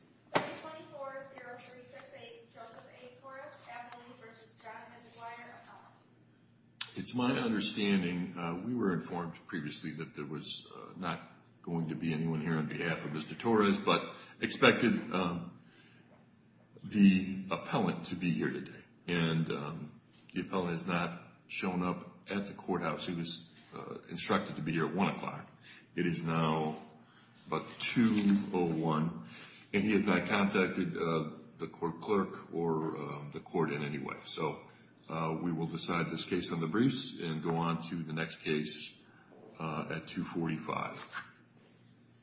It's my understanding, we were informed previously that there was not going to be anyone here on behalf of Mr. Torres, but expected the appellant to be here today. And the appellant has not shown up at the courthouse. He was instructed to be here at 1 o'clock. It is now about 2 o'clock, and he has not contacted the court clerk or the court in any way. So we will decide this case on the briefs and go on to the next case at 2.45.